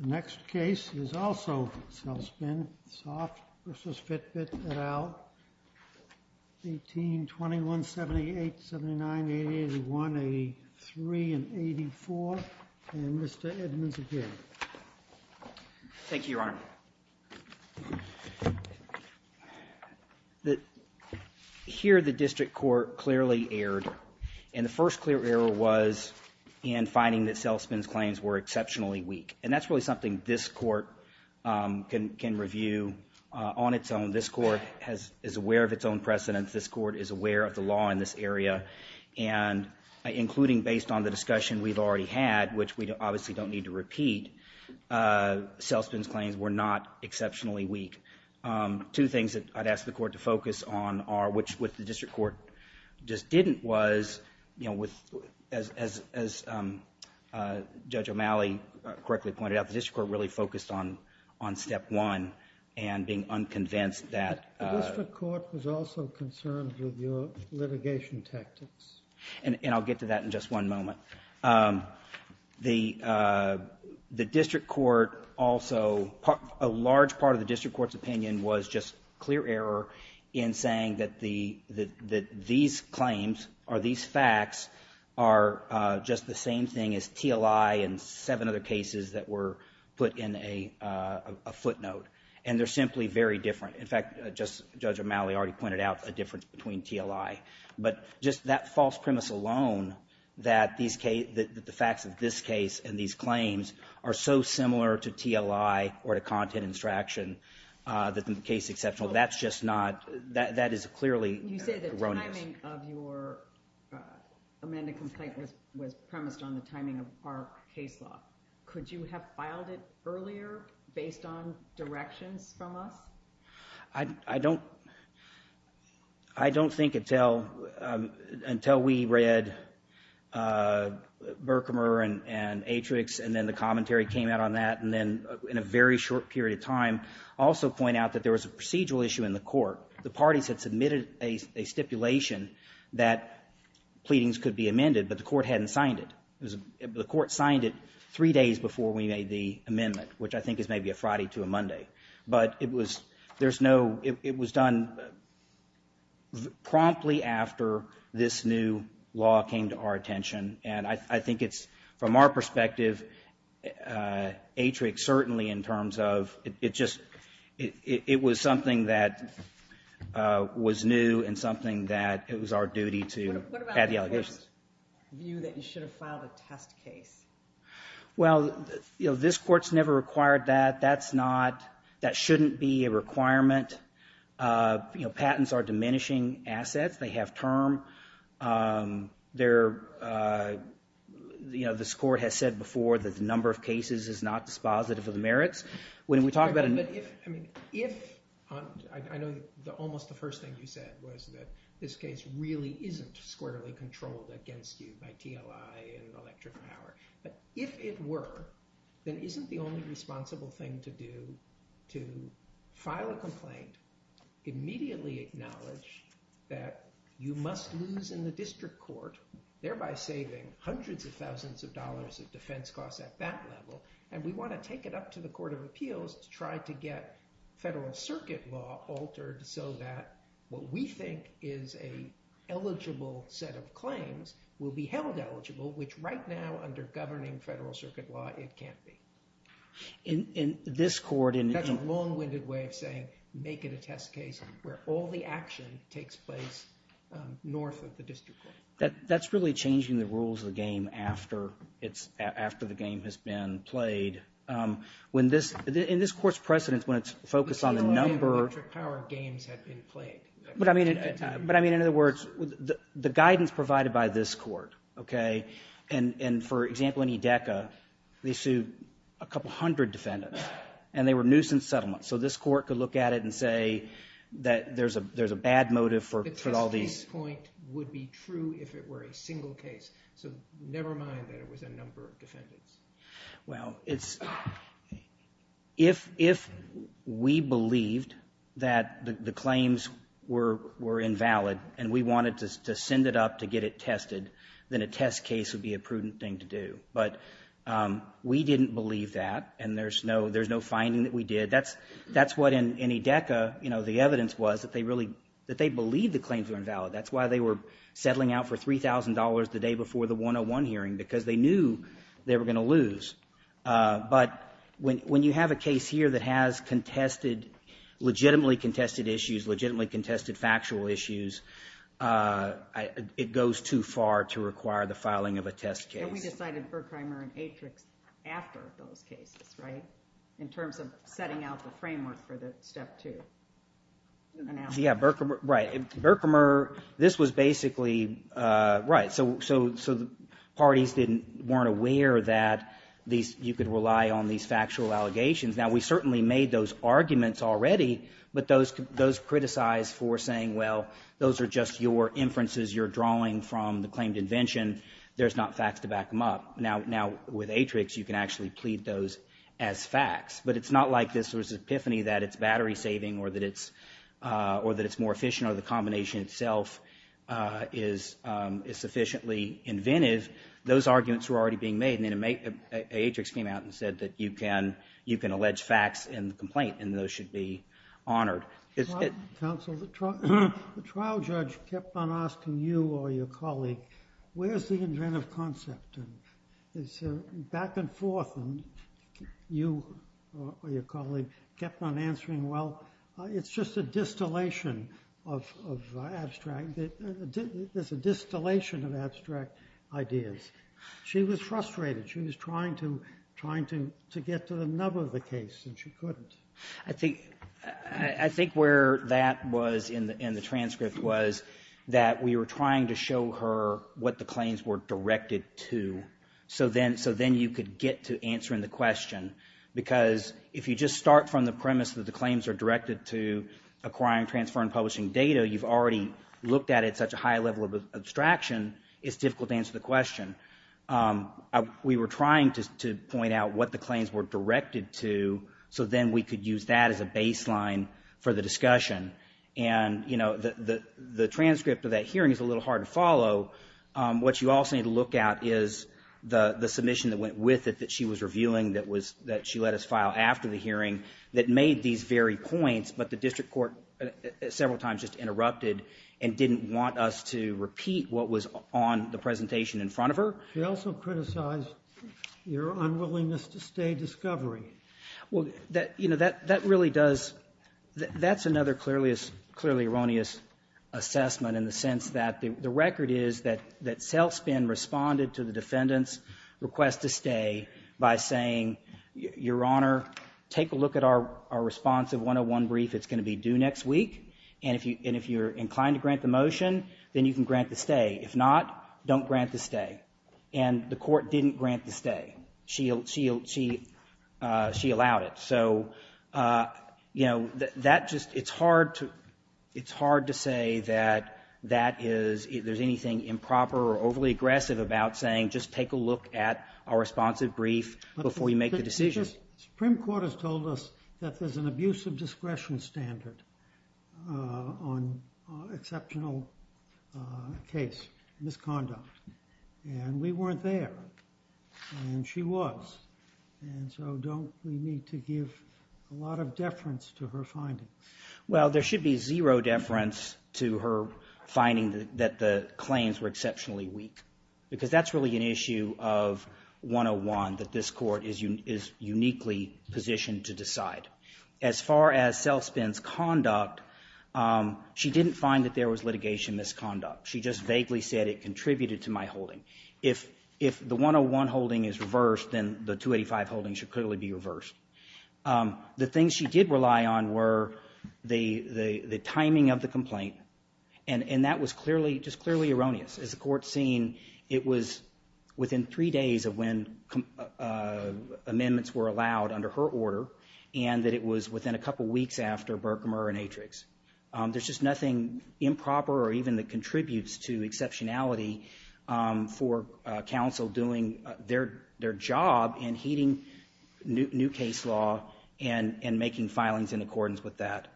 The next case is also Celspin Soft v. Fitbit, et al., 1821, 78, 79, 88, 81, 83, and 84. And Mr. Edmonds again. Thank you, Your Honor. Here, the district court clearly erred, and the first clear error was in finding that Celspin's claims were exceptionally weak. And that's really something this court can review on its own. This court is aware of its own precedents. This court is aware of the law in this area. And including based on the discussion we've already had, which we obviously don't need to repeat, Celspin's claims were not exceptionally weak. Two things that I'd ask the court to focus on are, which the district court just didn't was, you know, as Judge O'Malley correctly pointed out, the district court really focused on step one and being unconvinced that — The district court was also concerned with your litigation tactics. And I'll get to that in just one moment. The district court also — a large part of the district court's opinion was just clear error in saying that these claims or these facts are just the same thing as TLI and seven other cases that were put in a footnote. And they're simply very different. In fact, Judge O'Malley already pointed out a difference between TLI. But just that false premise alone that the facts of this case and these claims are so similar to TLI or to content extraction that the case exceptional, that's just not — that is clearly erroneous. You say the timing of your amended complaint was premised on the timing of our case law. Could you have filed it earlier based on directions from us? I don't — I don't think until — until we read Berkmer and Atrix and then the commentary came out on that and then in a very short period of time also point out that there was a procedural issue in the court. The parties had submitted a stipulation that pleadings could be amended, but the court hadn't signed it. It was — the court signed it three days before we made the amendment, which I think is maybe a Friday to a Monday. But it was — there's no — it was done promptly after this new law came to our attention. And I think it's — from our perspective, Atrix certainly in terms of — it just — it was something that was new and something that it was our duty to add the allegations. What about the court's view that you should have filed a test case? Well, you know, this court's never required that. That's not — that shouldn't be a requirement. You know, patents are diminishing assets. They have term. They're — you know, this court has said before that the number of cases is not dispositive of the merits. When we talk about — But if — I mean, if — I know almost the first thing you said was that this case really isn't squarely controlled against you by TLI and electric power. But if it were, then isn't the only responsible thing to do to file a complaint, immediately acknowledge that you must lose in the district court, thereby saving hundreds of thousands of dollars of defense costs at that level? And we want to take it up to the Court of Appeals to try to get federal circuit law altered so that what we think is an eligible set of claims will be held eligible, which right now, under governing federal circuit law, it can't be. In this court — That's a long-winded way of saying, make it a test case where all the action takes place north of the district court. That's really changing the rules of the game after it's — after the game has been played. When this — in this court's precedence, when it's focused on the number — The TLI and electric power games have been played. But I mean — but I mean, in other words, the guidance provided by this court, okay, and for example, in Edeka, they sued a couple hundred defendants, and they were nuisance settlements. So this court could look at it and say that there's a — there's a bad motive for all these — The test case point would be true if it were a single case. So never mind that it was a number of defendants. Well, it's — if — if we believed that the claims were — were invalid and we wanted to send it up to get it tested, then a test case would be a prudent thing to do. But we didn't believe that, and there's no — there's no finding that we did. That's — that's what, in Edeka, you know, the evidence was, that they really — that they believed the claims were invalid. That's why they were settling out for $3,000 the day before the 101 hearing, because they knew they were going to lose. But when you have a case here that has contested — legitimately contested issues, legitimately it goes too far to require the filing of a test case. But we decided Berkramer and Atrix after those cases, right, in terms of setting out the framework for the step two. Yeah, Berkramer — right. Berkramer — this was basically — right. So — so — so the parties didn't — weren't aware that these — you could rely on these factual allegations. Now, we certainly made those arguments already, but those — those criticized for saying, well, those are just your inferences you're drawing from the claimed invention. There's not facts to back them up. Now — now, with Atrix, you can actually plead those as facts. But it's not like this was an epiphany that it's battery-saving or that it's — or that it's more efficient or the combination itself is — is sufficiently inventive. Those arguments were already being made, and then Atrix came out and said that you can — you can allege facts in the complaint, and those should be honored. Counsel, the trial judge kept on asking you or your colleague, where's the inventive concept? And it's back and forth, and you or your colleague kept on answering, well, it's just a distillation of — of abstract — there's a distillation of abstract ideas. She was frustrated. She was trying to — trying to — to get to the nub of the case, and she couldn't. I think — I think where that was in the transcript was that we were trying to show her what the claims were directed to, so then — so then you could get to answering the question. Because if you just start from the premise that the claims are directed to acquiring, transferring, publishing data, you've already looked at it at such a high level of abstraction, it's difficult to answer the question. We were trying to point out what the claims were directed to, so then we could use that as a baseline for the discussion, and, you know, the — the transcript of that hearing is a little hard to follow. What you also need to look at is the — the submission that went with it that she was reviewing that was — that she let us file after the hearing that made these very points, but the district court several times just interrupted and didn't want us to repeat what was on the presentation in front of her. She also criticized your unwillingness to stay discovery. Well, that — you know, that — that really does — that's another clearly — clearly erroneous assessment in the sense that the record is that — that Selspin responded to the defendant's request to stay by saying, Your Honor, take a look at our — our responsive 101 brief. It's going to be due next week, and if you — and if you're inclined to grant the stay. If not, don't grant the stay, and the court didn't grant the stay. She — she — she — she allowed it, so, you know, that just — it's hard to — it's hard to say that that is — if there's anything improper or overly aggressive about saying just take a look at our responsive brief before you make the decision. Supreme Court has told us that there's an abuse of discretion standard on exceptional case, misconduct, and we weren't there, and she was, and so don't — we need to give a lot of deference to her finding. Well, there should be zero deference to her finding that the claims were exceptionally weak, because that's really an issue of 101 that this court is uniquely positioned to decide. As far as Selspin's conduct, she didn't find that there was litigation misconduct. She just vaguely said it contributed to my holding. If — if the 101 holding is reversed, then the 285 holding should clearly be reversed. The things she did rely on were the — the timing of the complaint, and that was clearly — just clearly erroneous. As the court's seen, it was within three days of when amendments were allowed under her order, and that it was within a couple weeks after Berkmer and Atrix. There's just nothing improper or even that contributes to exceptionality for counsel doing their — their job in heeding new case law and — and making filings in accordance with that.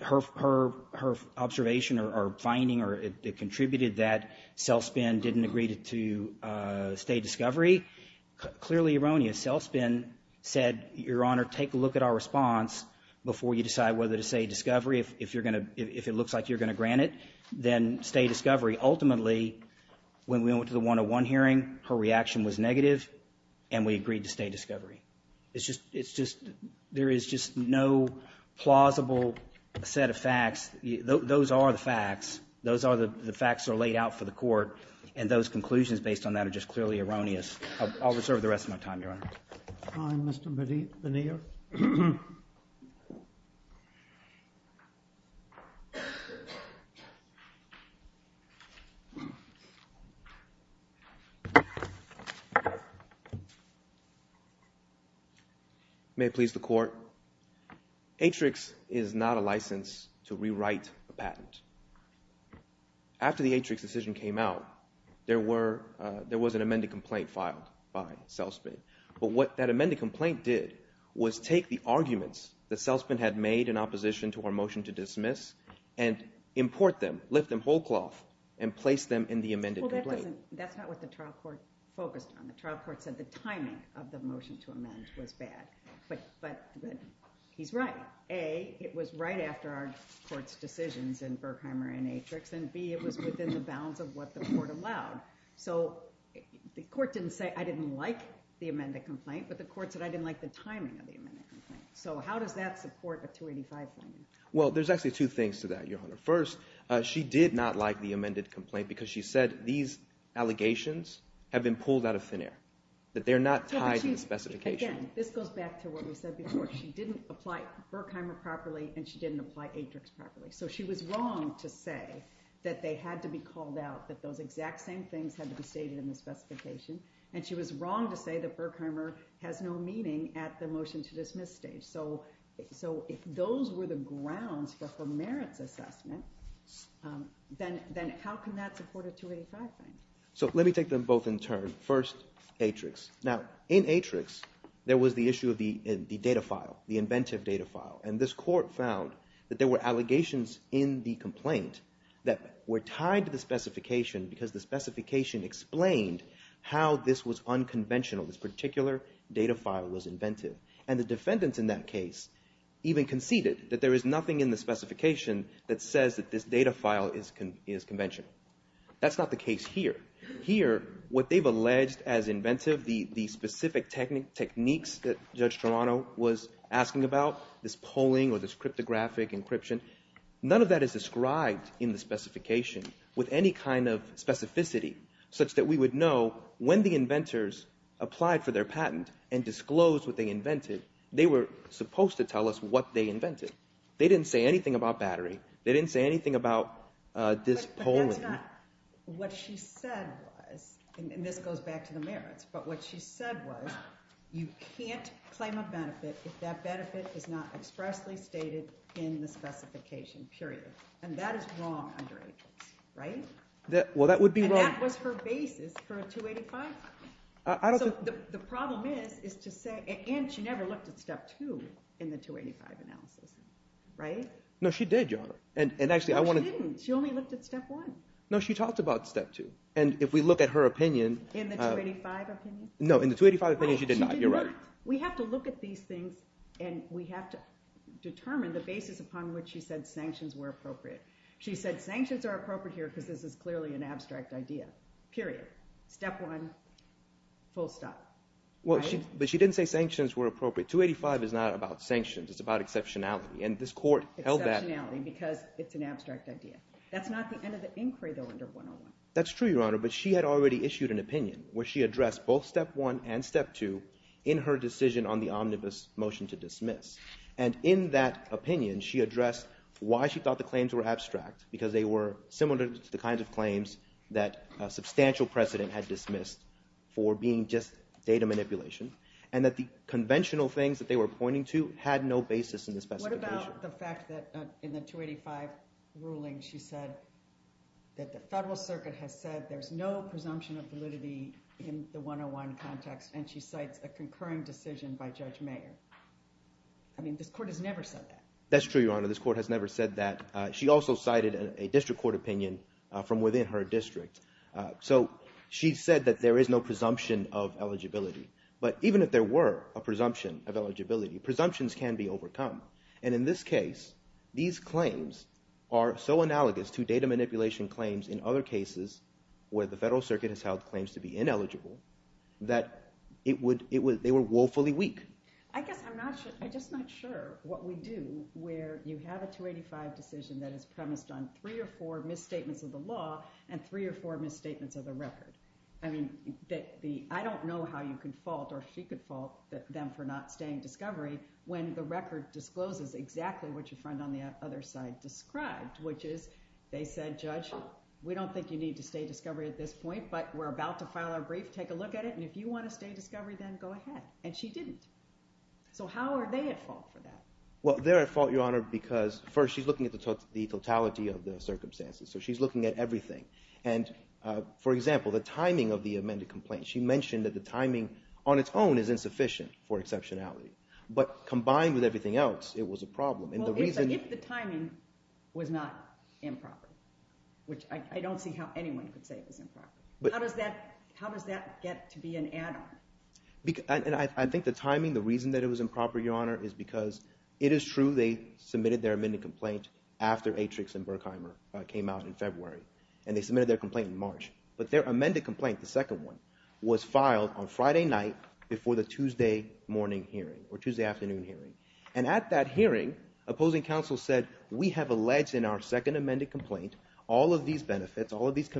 Her observation or finding or it contributed that Selspin didn't agree to stay discovery, clearly erroneous. If Selspin said, Your Honor, take a look at our response before you decide whether to stay discovery, if — if you're going to — if it looks like you're going to grant it, then stay discovery, ultimately, when we went to the 101 hearing, her reaction was negative, and we agreed to stay discovery. It's just — it's just — there is just no plausible set of facts. Those are the facts. Those are the facts that are laid out for the court, and those conclusions based on that are just clearly erroneous. I'll reserve the rest of my time, Your Honor. BENNETT. I, Mr. Bennett, veneer. MR. BENNETT. May it please the Court. Atrix is not a license to rewrite a patent. After the Atrix decision came out, there were — there was an amended complaint filed by Selspin. But what that amended complaint did was take the arguments that Selspin had made in opposition to our motion to dismiss and import them, lift them whole cloth, and place them in the amended complaint. JUSTICE GINSBURG. Well, that doesn't — that's not what the trial court focused on. The trial court said the timing of the motion to amend was bad, but — but he's right. A, it was right after our court's decisions in Berkheimer and Atrix, and B, it was within the bounds of what the court allowed. So the court didn't say, I didn't like the amended complaint, but the court said I didn't like the timing of the amended complaint. So how does that support a 285 finding? MR. BENNETT. Well, there's actually two things to that, Your Honor. First, she did not like the amended complaint because she said these allegations have been pulled out of thin air, that they're not tied to the specification. JUSTICE GINSBURG. And again, this goes back to what we said before. She didn't apply Berkheimer properly, and she didn't apply Atrix properly. So she was wrong to say that they had to be called out, that those exact same things had to be stated in the specification, and she was wrong to say that Berkheimer has no meaning at the motion-to-dismiss stage. So if those were the grounds for her merits assessment, then how can that support a 285 finding? BENNETT. So let me take them both in turn. First, Atrix. Now, in Atrix, there was the issue of the data file, the inventive data file. And this Court found that there were allegations in the complaint that were tied to the specification because the specification explained how this was unconventional, this particular data file was inventive. And the defendants in that case even conceded that there is nothing in the specification that says that this data file is conventional. That's not the case here. Here, what they've alleged as inventive, the specific techniques that Judge Toronto was asking about, this polling or this cryptographic encryption, none of that is described in the specification with any kind of specificity, such that we would know when the inventors applied for their patent and disclosed what they invented, they were supposed to tell us what they invented. They didn't say anything about battery. They didn't say anything about this polling. That's not what she said was, and this goes back to the merits, but what she said was you can't claim a benefit if that benefit is not expressly stated in the specification, period. And that is wrong under Atrix, right? Well, that would be wrong. And that was her basis for a 285. The problem is, is to say, and she never looked at step two in the 285 analysis, right? No, she did, Your Honor. And actually, I want to... No, she talked about step two. And if we look at her opinion... In the 285 opinion? No, in the 285 opinion, she did not. You're right. Well, she did not. We have to look at these things, and we have to determine the basis upon which she said sanctions were appropriate. She said sanctions are appropriate here because this is clearly an abstract idea, period. Step one, full stop, right? Well, but she didn't say sanctions were appropriate. 285 is not about sanctions, it's about exceptionality. And this court held that... Exceptionality, because it's an abstract idea. That's not the end of the inquiry, though, under 101. That's true, Your Honor, but she had already issued an opinion where she addressed both step one and step two in her decision on the omnibus motion to dismiss. And in that opinion, she addressed why she thought the claims were abstract, because they were similar to the kinds of claims that a substantial precedent had dismissed for being just data manipulation, and that the conventional things that they were pointing to had no basis in the specification. What about the fact that in the 285 ruling, she said that the Federal Circuit has said there's no presumption of validity in the 101 context, and she cites a concurring decision by Judge Mayer? I mean, this court has never said that. That's true, Your Honor. This court has never said that. She also cited a district court opinion from within her district. So she said that there is no presumption of eligibility. But even if there were a presumption of eligibility, presumptions can be overcome. And in this case, these claims are so analogous to data manipulation claims in other cases where the Federal Circuit has held claims to be ineligible, that they were woefully weak. I guess I'm just not sure what we do where you have a 285 decision that is premised on three or four misstatements of the law and three or four misstatements of the record. I mean, I don't know how you can fault or she could fault them for not staying discovery when the record discloses exactly what your friend on the other side described, which is they said, Judge, we don't think you need to stay discovery at this point, but we're about to file our brief. Take a look at it. And if you want to stay discovery, then go ahead. And she didn't. So how are they at fault for that? Well, they're at fault, Your Honor, because first, she's looking at the totality of the circumstances. So she's looking at everything. And for example, the timing of the amended complaint, she mentioned that the timing on its own is insufficient for exceptionality, but combined with everything else, it was a problem. If the timing was not improper, which I don't see how anyone could say it was improper, how does that get to be an add-on? I think the timing, the reason that it was improper, Your Honor, is because it is true they submitted their amended complaint after Atrix and Berkheimer came out in February and they submitted their complaint in March. But their amended complaint, the second one, was filed on Friday night before the Tuesday morning hearing or Tuesday afternoon hearing. And at that hearing, opposing counsel said, we have alleged in our second amended complaint all of these benefits, all of these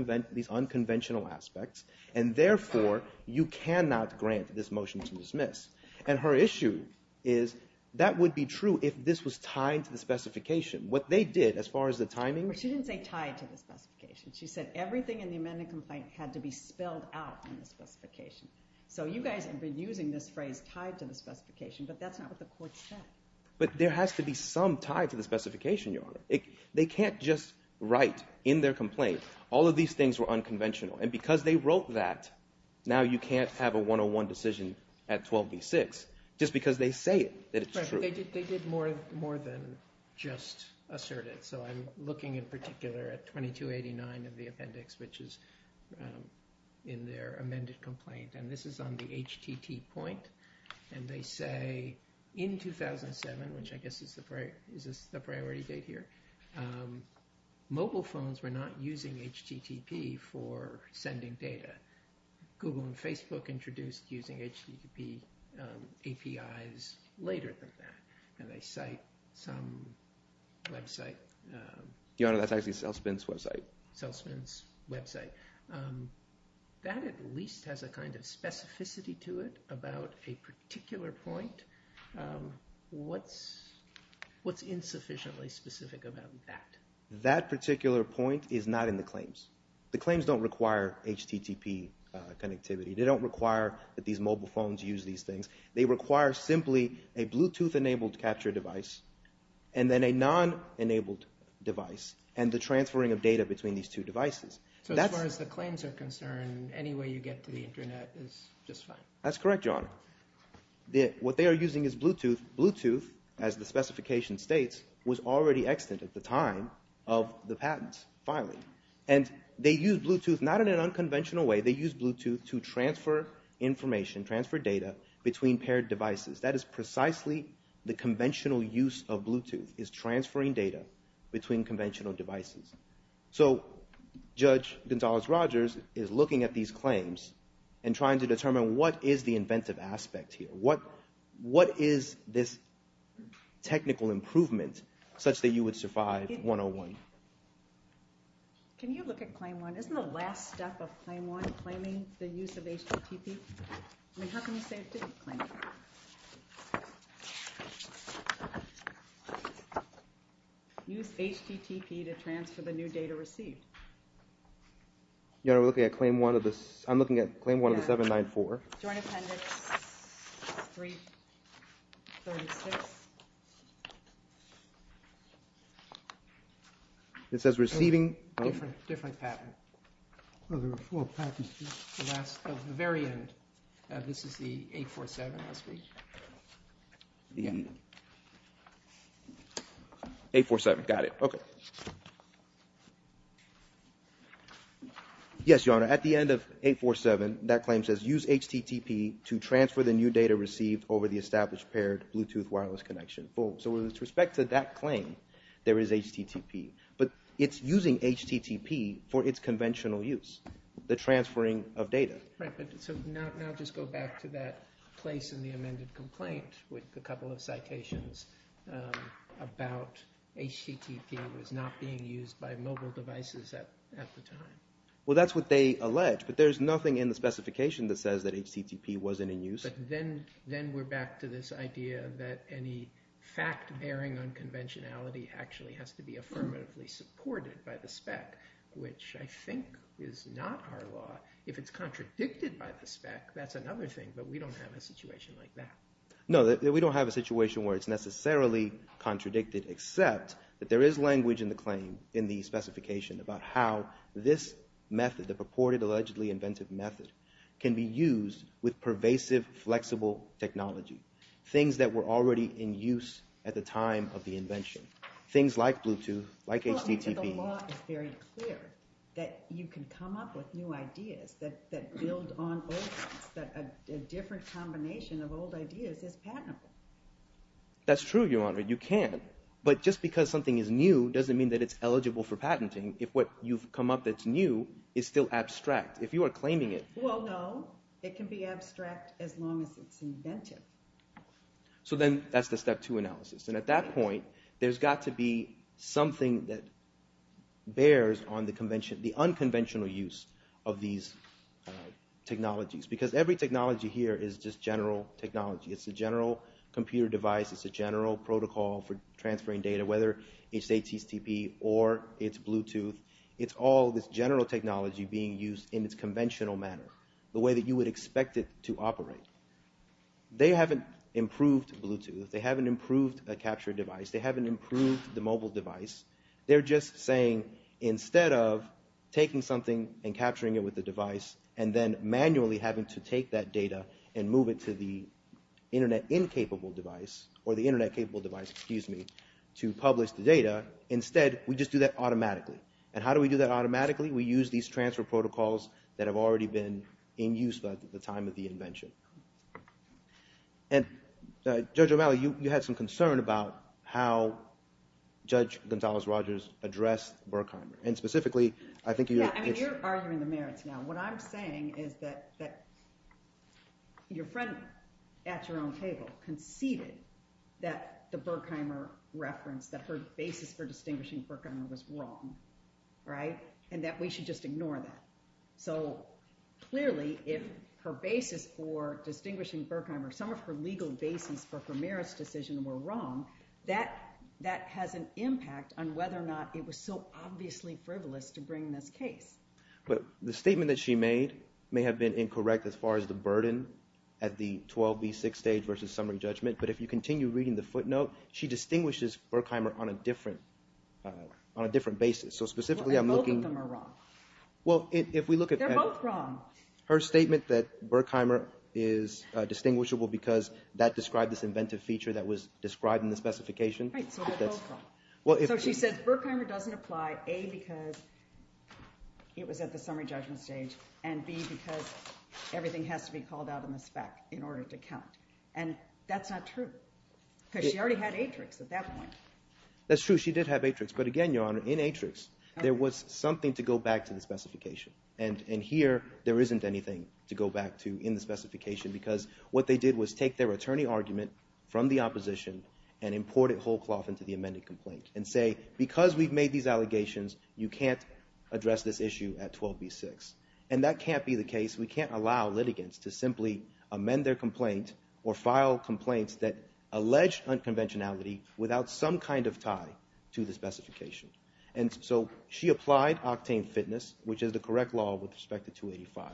unconventional aspects, and therefore, you cannot grant this motion to dismiss. And her issue is, that would be true if this was tied to the specification. What they did, as far as the timing was... Well, she didn't say tied to the specification. She said everything in the amended complaint had to be spelled out in the specification. So you guys have been using this phrase, tied to the specification, but that's not what the court said. But there has to be some tie to the specification, Your Honor. They can't just write in their complaint, all of these things were unconventional. And because they wrote that, now you can't have a 101 decision at 12b-6, just because they say it, that it's true. They did more than just assert it. So I'm looking in particular at 2289 of the appendix, which is in their amended complaint. And this is on the HTT point. And they say, in 2007, which I guess is the priority date here, mobile phones were not using HTTP for sending data. Google and Facebook introduced using HTTP APIs later than that. And they cite some website. Your Honor, that's actually Selspyn's website. Selspyn's website. That at least has a kind of specificity to it about a particular point. What's insufficiently specific about that? That particular point is not in the claims. The claims don't require HTTP connectivity. They don't require that these mobile phones use these things. They require simply a Bluetooth-enabled capture device, and then a non-enabled device, and the transferring of data between these two devices. So as far as the claims are concerned, any way you get to the internet is just fine. That's correct, Your Honor. What they are using is Bluetooth. Bluetooth, as the specification states, was already extant at the time of the patent filing. And they used Bluetooth not in an unconventional way. They used Bluetooth to transfer information, transfer data, between paired devices. That is precisely the conventional use of Bluetooth, is transferring data between conventional devices. So Judge Gonzales-Rogers is looking at these claims and trying to determine what is the inventive aspect here. What is this technical improvement such that you would survive 101? Can you look at Claim 1? Isn't the last step of Claim 1 claiming the use of HTTP? I mean, how can you say it didn't claim it? Use HTTP to transfer the new data received. Your Honor, I'm looking at Claim 1 of the 794. Joint Appendix 336. It says receiving... Different patent. There were four patents. The last, the very end. This is the 847, I speak. 847, got it. Okay. Yes, Your Honor. At the end of 847, that claim says use HTTP to transfer the new data received over the established paired Bluetooth wireless connection. So with respect to that claim, there is HTTP. But it's using HTTP for its conventional use, the transferring of data. Right, but so now just go back to that place in the amended complaint with a couple of citations about HTTP was not being used by mobile devices at the time. Well, that's what they allege, but there's nothing in the specification that says that HTTP wasn't in use. Yes, but then we're back to this idea that any fact bearing unconventionality actually has to be affirmatively supported by the spec, which I think is not our law. If it's contradicted by the spec, that's another thing, but we don't have a situation like that. No, we don't have a situation where it's necessarily contradicted except that there is language in the claim, in the specification about how this method, the purported allegedly inventive method, can be used with pervasive, flexible technology, things that were already in use at the time of the invention, things like Bluetooth, like HTTP. Well, the law is very clear that you can come up with new ideas that build on old ones, that a different combination of old ideas is patentable. That's true, Your Honor, you can. But just because something is new doesn't mean that it's eligible for patenting if what you've come up that's new is still abstract. If you are claiming it... Well, no. It can be abstract as long as it's inventive. So then that's the step two analysis. And at that point, there's got to be something that bears on the unconventional use of these technologies, because every technology here is just general technology. It's a general computer device. It's a general protocol for transferring data, whether it's HTTP or it's Bluetooth. It's all this general technology being used in its conventional manner, the way that you would expect it to operate. They haven't improved Bluetooth. They haven't improved a capture device. They haven't improved the mobile device. They're just saying, instead of taking something and capturing it with the device and then manually having to take that data and move it to the Internet-incapable device, or the Internet-capable device, excuse me, to publish the data, instead, we just do that automatically. And how do we do that automatically? We use these transfer protocols that have already been in use at the time of the invention. And Judge O'Malley, you had some concern about how Judge Gonzales-Rogers addressed Berkheimer. And specifically, I think... Yeah, I mean, you're arguing the merits now. What I'm saying is that your friend at your own table conceded that the Berkheimer reference, that her basis for distinguishing Berkheimer was wrong, right? And that we should just ignore that. So clearly, if her basis for distinguishing Berkheimer, some of her legal basis for her merits decision were wrong, that has an impact on whether or not it was so obviously frivolous to bring this case. But the statement that she made may have been incorrect as far as the burden at the 12B6 stage versus summary judgment. But if you continue reading the footnote, she distinguishes Berkheimer on a different basis. So specifically, I'm looking... Well, then both of them are wrong. Well, if we look at... They're both wrong. Her statement that Berkheimer is distinguishable because that described this inventive feature that was described in the specification... Right, so they're both wrong. So she says Berkheimer doesn't apply, A, because it was at the summary judgment stage, and B, because everything has to be called out in the spec in order to count. And that's not true because she already had Atrix at that point. That's true. She did have Atrix. But again, Your Honor, in Atrix, there was something to go back to the specification. And here, there isn't anything to go back to in the specification because what they did was take their attorney argument from the opposition and import it whole cloth into the amended complaint and say, because we've made these allegations, you can't address this issue at 12B6. And that can't be the case. We can't allow litigants to simply amend their complaint or file complaints that allege unconventionality without some kind of tie to the specification. And so she applied octane fitness, which is the correct law with respect to 285.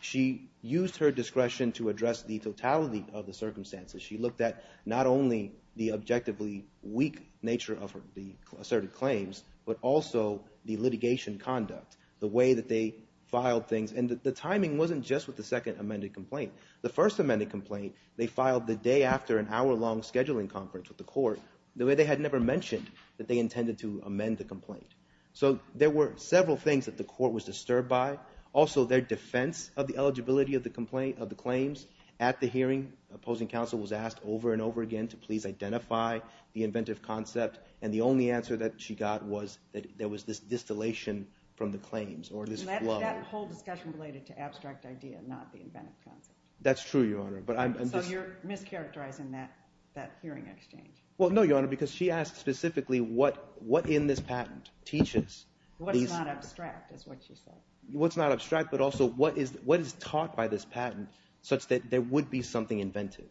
She used her discretion to address the totality of the circumstances. She looked at not only the objectively weak nature of the asserted claims, but also the litigation conduct, the way that they filed things. And the timing wasn't just with the second amended complaint. The first amended complaint, they filed the day after an hour-long scheduling conference with the court the way they had never mentioned that they intended to amend the complaint. So there were several things that the court was disturbed by. Also, their defense of the eligibility of the claims at the hearing. The opposing counsel was asked over and over again to please identify the inventive concept. And the only answer that she got was that there was this distillation from the claims or this flow. That whole discussion related to abstract idea, not the inventive concept. That's true, Your Honor, but I'm just So you're mischaracterizing that hearing exchange. Well, no, Your Honor, because she asked specifically what in this patent teaches What's not abstract is what she said. What's not abstract, but also what is taught by this patent such that there would be something inventive.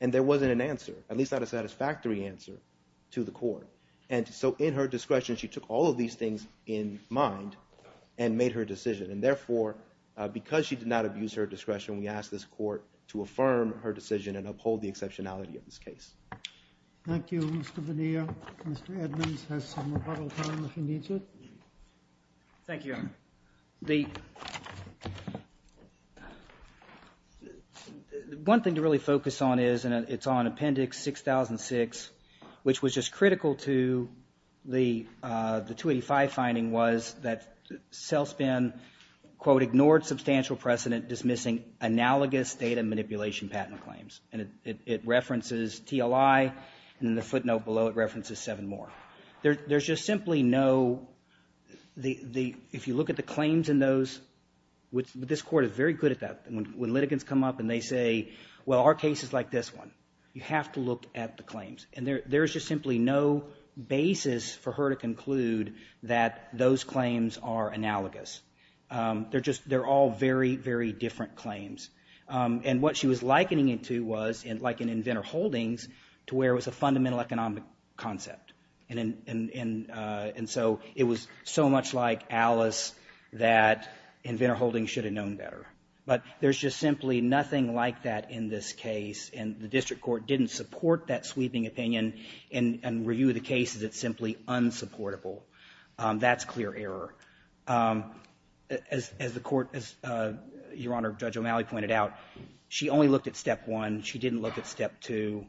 And there wasn't an answer, at least not a satisfactory answer to the court. And so in her discretion, she took all of these things in mind and made her decision. And therefore, because she did not abuse her discretion, we ask this court to affirm her decision and uphold the exceptionality of this case. Thank you, Mr. Bonilla. Mr. Edmonds has some rebuttal time if he needs it. Thank you, Your Honor. One thing to really focus on is, and it's on Appendix 6006, which was just critical to the 285 finding was that Celspin, quote, ignored substantial precedent dismissing analogous data manipulation patent claims. And it references TLI, and in the footnote below, it references seven more. There's just simply no, if you look at the claims in those, this court is very good at that. When litigants come up and they say, well, our case is like this one, you have to look at the claims. And there's just simply no basis for her to conclude that those claims are analogous. They're just, they're all very, very different claims. And what she was likening it to was, like in Inventor Holdings, to where it was a fundamental economic concept. And so it was so much like Alice that Inventor Holdings should have known better. But there's just simply nothing like that in this case. And the district court didn't support that sweeping opinion and review the case as it's simply unsupportable. That's clear error. As the Court, as Your Honor, Judge O'Malley pointed out, she only looked at Step 1. She didn't look at Step 2.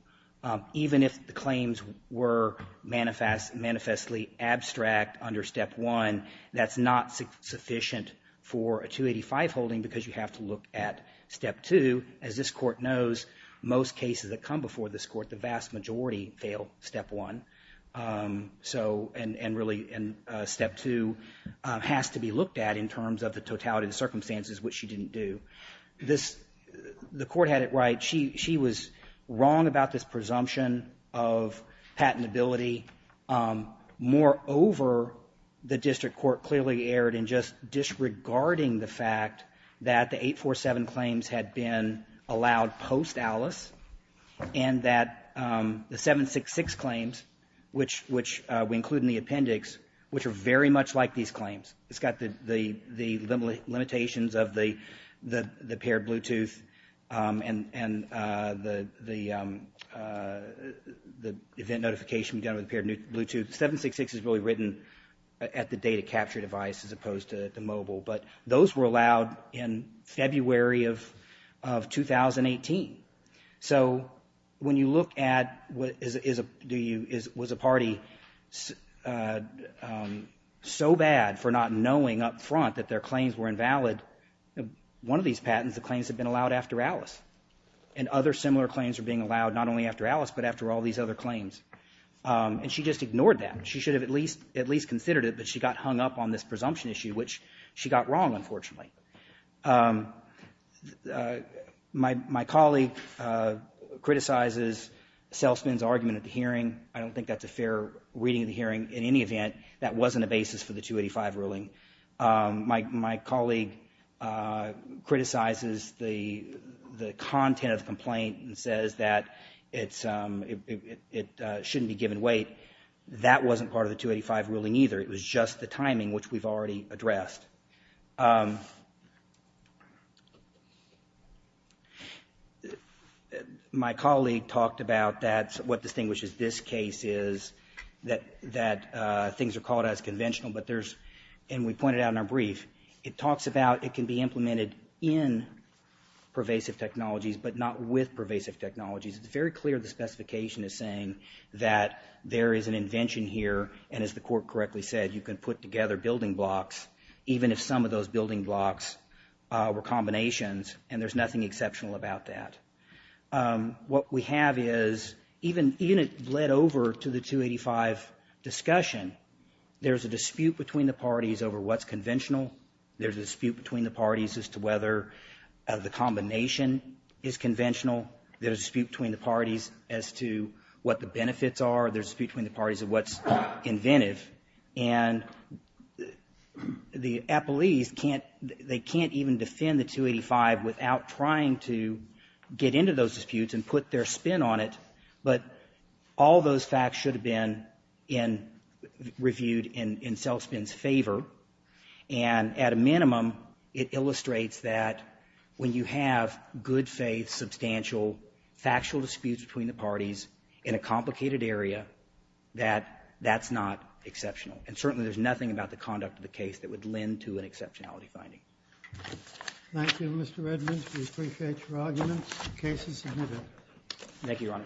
Even if the claims were manifestly abstract under Step 1, that's not sufficient for a 285 holding because you have to look at Step 2. As this Court knows, most cases that come before this Court, the vast majority fail Step 1. So, and really Step 2 has to be looked at in terms of the totality of the circumstances, which she didn't do. The Court had it right. She was wrong about this presumption of patentability. Moreover, the district court clearly erred in just disregarding the fact that the 847 claims had been allowed post-Alice and that the 766 claims, which we include in the appendix, which are very much like these claims. It's got the limitations of the paired Bluetooth and the event notification done with the paired Bluetooth. 766 is really written at the data capture device as opposed to the mobile, but those were allowed in February of 2018. So when you look at was a party so bad for not knowing up front that their claims were invalid, one of these patents, the claims had been allowed after Alice, and other similar claims were being allowed not only after Alice, but after all these other claims. And she just ignored that. She should have at least considered it, but she got hung up on this presumption issue, which she got wrong, unfortunately. My colleague criticizes Selsman's argument at the hearing. I don't think that's a fair reading of the hearing. In any event, that wasn't a basis for the 285 ruling. My colleague criticizes the content of the complaint and says that it shouldn't be given weight. That wasn't part of the 285 ruling either. It was just the timing, which we've already addressed. My colleague talked about what distinguishes this case is that things are called as conventional, but there's, and we pointed out in our brief, it talks about it can be implemented in pervasive technologies, but not with pervasive technologies. It's very clear the specification is saying that there is an invention here, and as the court correctly said, you can put together building blocks, even if some of those building blocks were combinations, and there's nothing exceptional about that. What we have is, even it led over to the 285 discussion, there's a dispute between the parties over what's conventional. There's a dispute between the parties as to whether the combination is conventional. There's a dispute between the parties as to what the benefits are. There's a dispute between the parties of what's inventive. And the appellees can't, they can't even defend the 285 without trying to get into those disputes and put their spin on it. But all those facts should have been in, reviewed in Selfspin's favor. And at a minimum, it illustrates that when you have good faith, substantial, factual disputes between the parties in a complicated area, that that's not exceptional. And certainly there's nothing about the conduct of the case that would lend to an exceptionality finding. Thank you, Mr. Edmonds. We appreciate your argument. The case is submitted. Thank you, Your Honor.